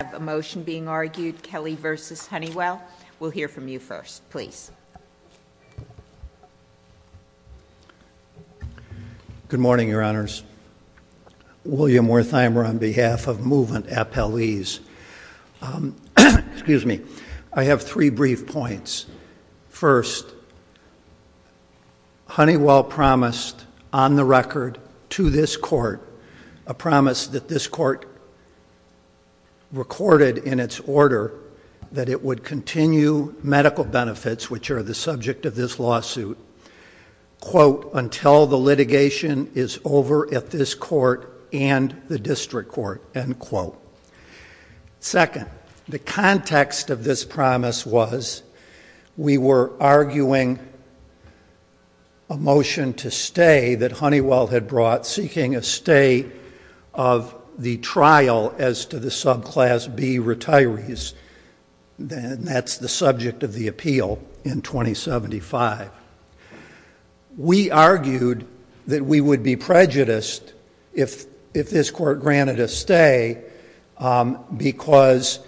We have a motion being argued, Kelly v. Honeywell. We'll hear from you first, please. Good morning, your honors. William Wertheimer on behalf of Movement Appellees. Excuse me. I have three brief points. First, Honeywell promised on the record to this court a promise that this court recorded in its order that it would continue medical benefits, which are the subject of this lawsuit, quote, until the litigation is over at this court and the district court, end quote. Second, the context of this promise was we were arguing a motion to stay that Honeywell had brought seeking a stay of the trial as to the subclass B retirees. That's the subject of the appeal in 2075. We argued that we would be prejudiced if this court granted a stay because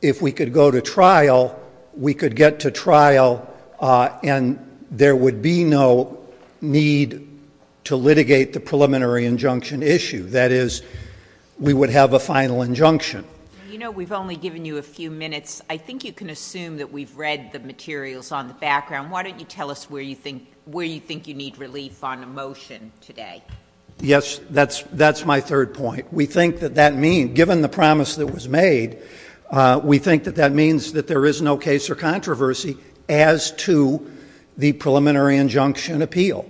if we could go to trial, we could get to trial and there would be no need to litigate the preliminary injunction issue. That is, we would have a final injunction. You know, we've only given you a few minutes. I think you can assume that we've read the materials on the background. Why don't you tell us where you think you need relief on a motion today? Yes, that's my third point. We think that that means, given the promise that was made, we think that that means that there is no case or controversy as to the preliminary injunction appeal.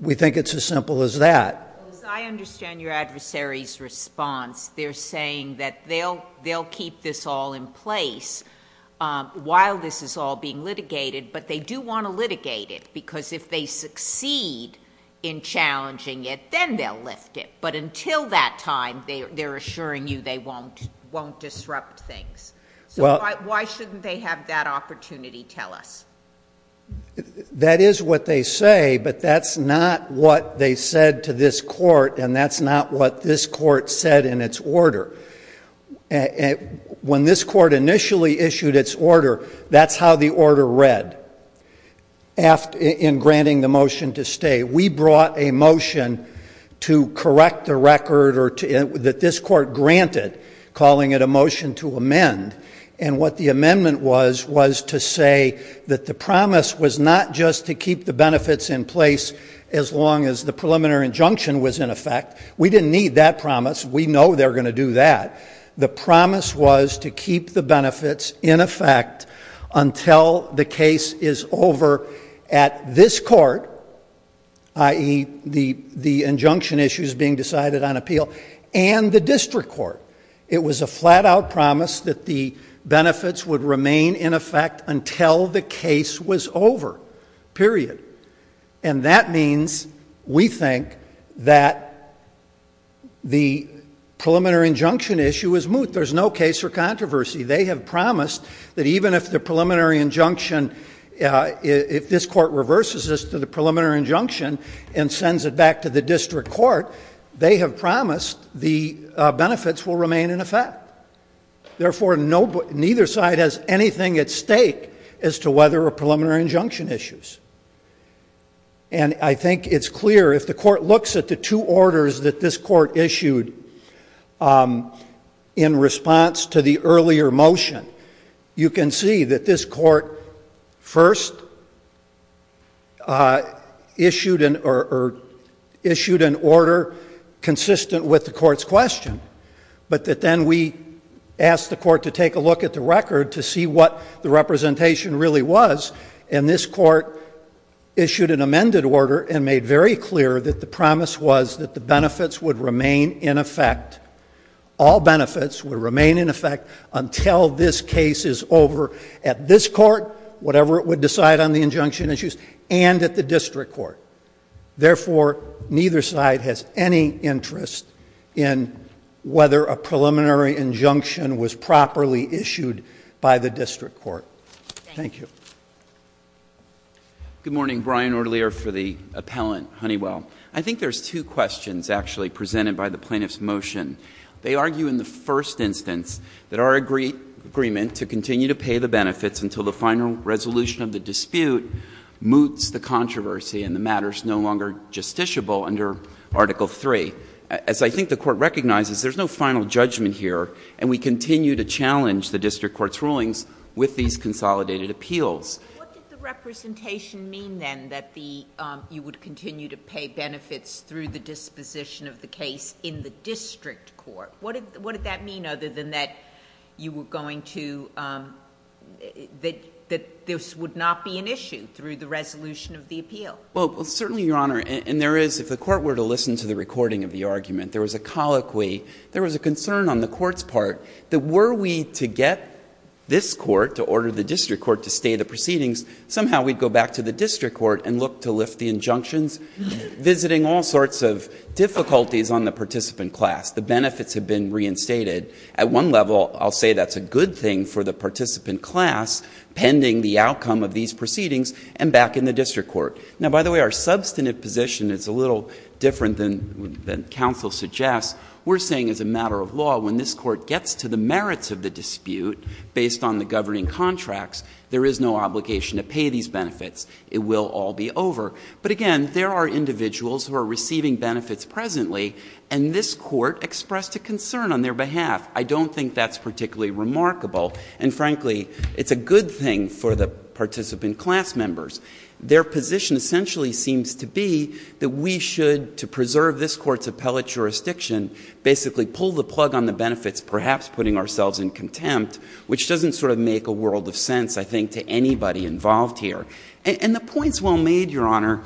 We think it's as simple as that. As I understand your adversary's response, they're saying that they'll keep this all in place while this is all being litigated, but they do want to litigate it because if they succeed in challenging it, then they'll lift it. But until that time, they're assuring you they won't disrupt things. So why shouldn't they have that opportunity, tell us? That is what they say, but that's not what they said to this court, and that's not what this court said in its order. When this court initially issued its order, that's how the order read. In granting the motion to stay, we brought a motion to correct the record that this court granted, calling it a motion to amend, and what the amendment was was to say that the promise was not just to keep the benefits in place as long as the preliminary injunction was in effect. We didn't need that promise. We know they're going to do that. The promise was to keep the benefits in effect until the case is over at this court, i.e., the injunction issue is being decided on appeal and the district court. It was a flat-out promise that the benefits would remain in effect until the case was over, period. And that means we think that the preliminary injunction issue is moot. There's no case for controversy. They have promised that even if the preliminary injunction, if this court reverses this to the preliminary injunction and sends it back to the district court, they have promised the benefits will remain in effect. Therefore, neither side has anything at stake as to whether a preliminary injunction issues. And I think it's clear, if the court looks at the two orders that this court issued in response to the earlier motion, you can see that this court first issued an order consistent with the court's question, but that then we asked the court to take a look at the record to see what the representation really was, and this court issued an amended order and made very clear that the promise was that the benefits would remain in effect. All benefits would remain in effect until this case is over at this court, whatever it would decide on the injunction issues, and at the district court. Therefore, neither side has any interest in whether a preliminary injunction was properly issued by the district court. Thank you. Good morning. Brian Orlier for the appellant, Honeywell. I think there's two questions actually presented by the plaintiff's motion. They argue in the first instance that our agreement to continue to pay the benefits until the final resolution of the dispute moots the controversy and the matter is no longer justiciable under Article III. As I think the court recognizes, there's no final judgment here, and we continue to challenge the district court's rulings with these consolidated appeals. What did the representation mean, then, that you would continue to pay benefits through the disposition of the case in the district court? What did that mean, other than that you were going to — that this would not be an issue through the resolution of the appeal? Well, certainly, Your Honor, and there is — if the court were to listen to the recording of the argument, there was a colloquy. There was a concern on the court's part that were we to get this court to order the district court to stay the proceedings, somehow we'd go back to the district court and look to lift the injunctions, visiting all sorts of difficulties on the participant class. The benefits have been reinstated. At one level, I'll say that's a good thing for the participant class, pending the outcome of these proceedings, and back in the district court. Now, by the way, our substantive position is a little different than counsel suggests. We're saying, as a matter of law, when this court gets to the merits of the dispute based on the governing contracts, there is no obligation to pay these benefits. It will all be over. But again, there are individuals who are receiving benefits presently, and this court expressed a concern on their behalf. I don't think that's particularly remarkable. And frankly, it's a good thing for the participant class members. Their position essentially seems to be that we should, to preserve this court's appellate jurisdiction, basically pull the plug on the benefits, perhaps putting ourselves in contempt, which doesn't sort of make a world of sense, I think, to anybody involved here. And the point's well made, Your Honor.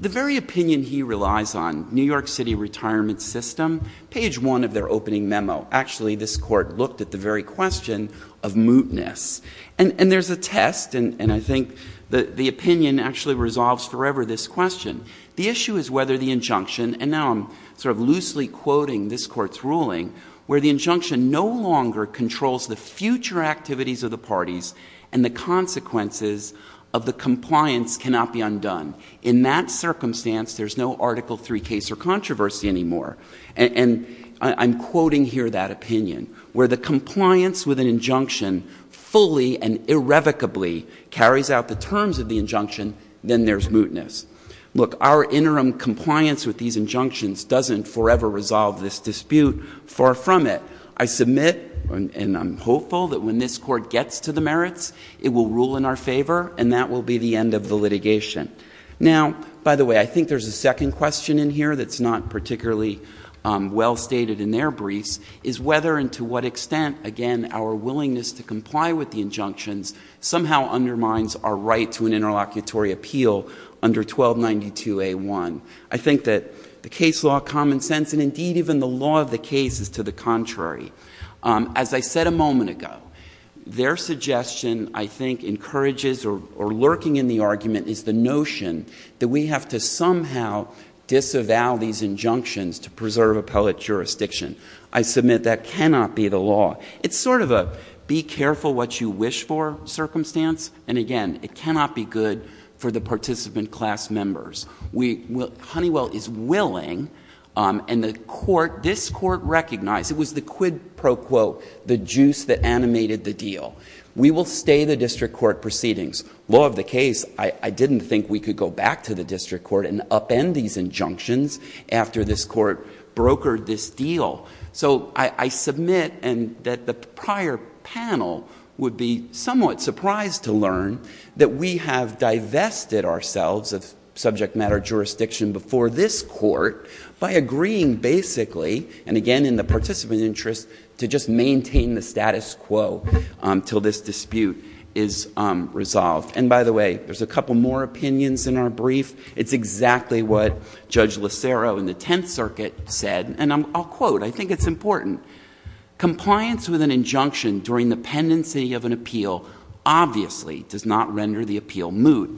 The very opinion he relies on, New York City Retirement System, page one of their opening memo, actually this court looked at the very question of mootness. And there's a test, and I think the opinion actually resolves forever this question. The issue is whether the injunction, and now I'm sort of loosely quoting this court's ruling, where the injunction no longer controls the future activities of the parties and the consequences of the compliance cannot be undone. In that circumstance, there's no Article III case or controversy anymore. And I'm quoting here that opinion, where the compliance with an injunction fully and irrevocably carries out the terms of the injunction, then there's mootness. Look, our interim compliance with these injunctions doesn't forever resolve this dispute. Far from it. I submit, and I'm hopeful, that when this court gets to the merits, it will rule in our favor, and that will be the end of the litigation. Now, by the way, I think there's a second question in here that's not particularly well stated in their briefs, is whether and to what extent, again, our willingness to comply with the injunctions somehow undermines our right to an interlocutory appeal under 1292A1. I think that the case law, common sense, and indeed even the law of the case is to the contrary. As I said a moment ago, their suggestion, I think, encourages, or lurking in the argument, is the notion that we have to somehow disavow these injunctions to preserve appellate jurisdiction. I submit that cannot be the law. It's sort of a be careful what you wish for circumstance. And again, it cannot be good for the participant class members. Honeywell is willing, and the court, this court recognized, it was the quid pro quo, the juice that animated the deal. We will stay the district court proceedings. Law of the case, I didn't think we could go back to the district court and upend these injunctions after this court brokered this deal. So I submit that the prior panel would be somewhat surprised to learn that we have divested ourselves of subject matter jurisdiction before this court by agreeing basically, and again, in the participant interest, to just maintain the status quo till this dispute is resolved. And by the way, there's a couple more opinions in our brief. It's exactly what Judge Lacero in the 10th Circuit said, and I'll quote, I think it's important. Compliance with an injunction during the pendency of an appeal obviously does not render the appeal moot.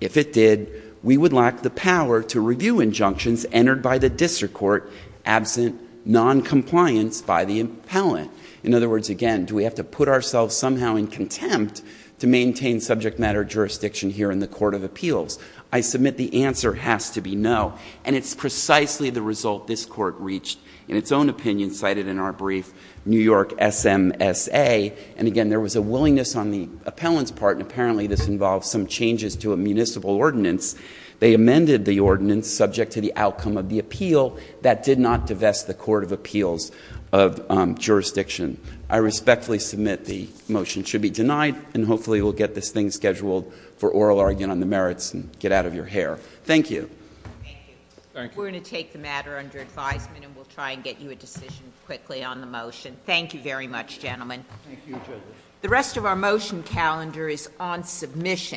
If it did, we would lack the power to review injunctions entered by the district court absent non-compliance by the appellant. In other words, again, do we have to put ourselves somehow in contempt to maintain subject matter jurisdiction here in the court of appeals? I submit the answer has to be no, and it's precisely the result this court reached in its own opinion cited in our brief, New York SMSA, and again, there was a willingness on the appellant's part, and apparently this involves some changes to a municipal ordinance. They amended the ordinance subject to the outcome of the appeal. That did not divest the court of appeals of jurisdiction. I respectfully submit the motion should be denied, and hopefully we'll get this thing scheduled for oral argument on the merits and get out of your hair. Thank you. Thank you. We're going to take the matter under advisement, and we'll try and get you a decision quickly on the motion. Thank you very much, gentlemen. The rest of our motion calendar is on submission.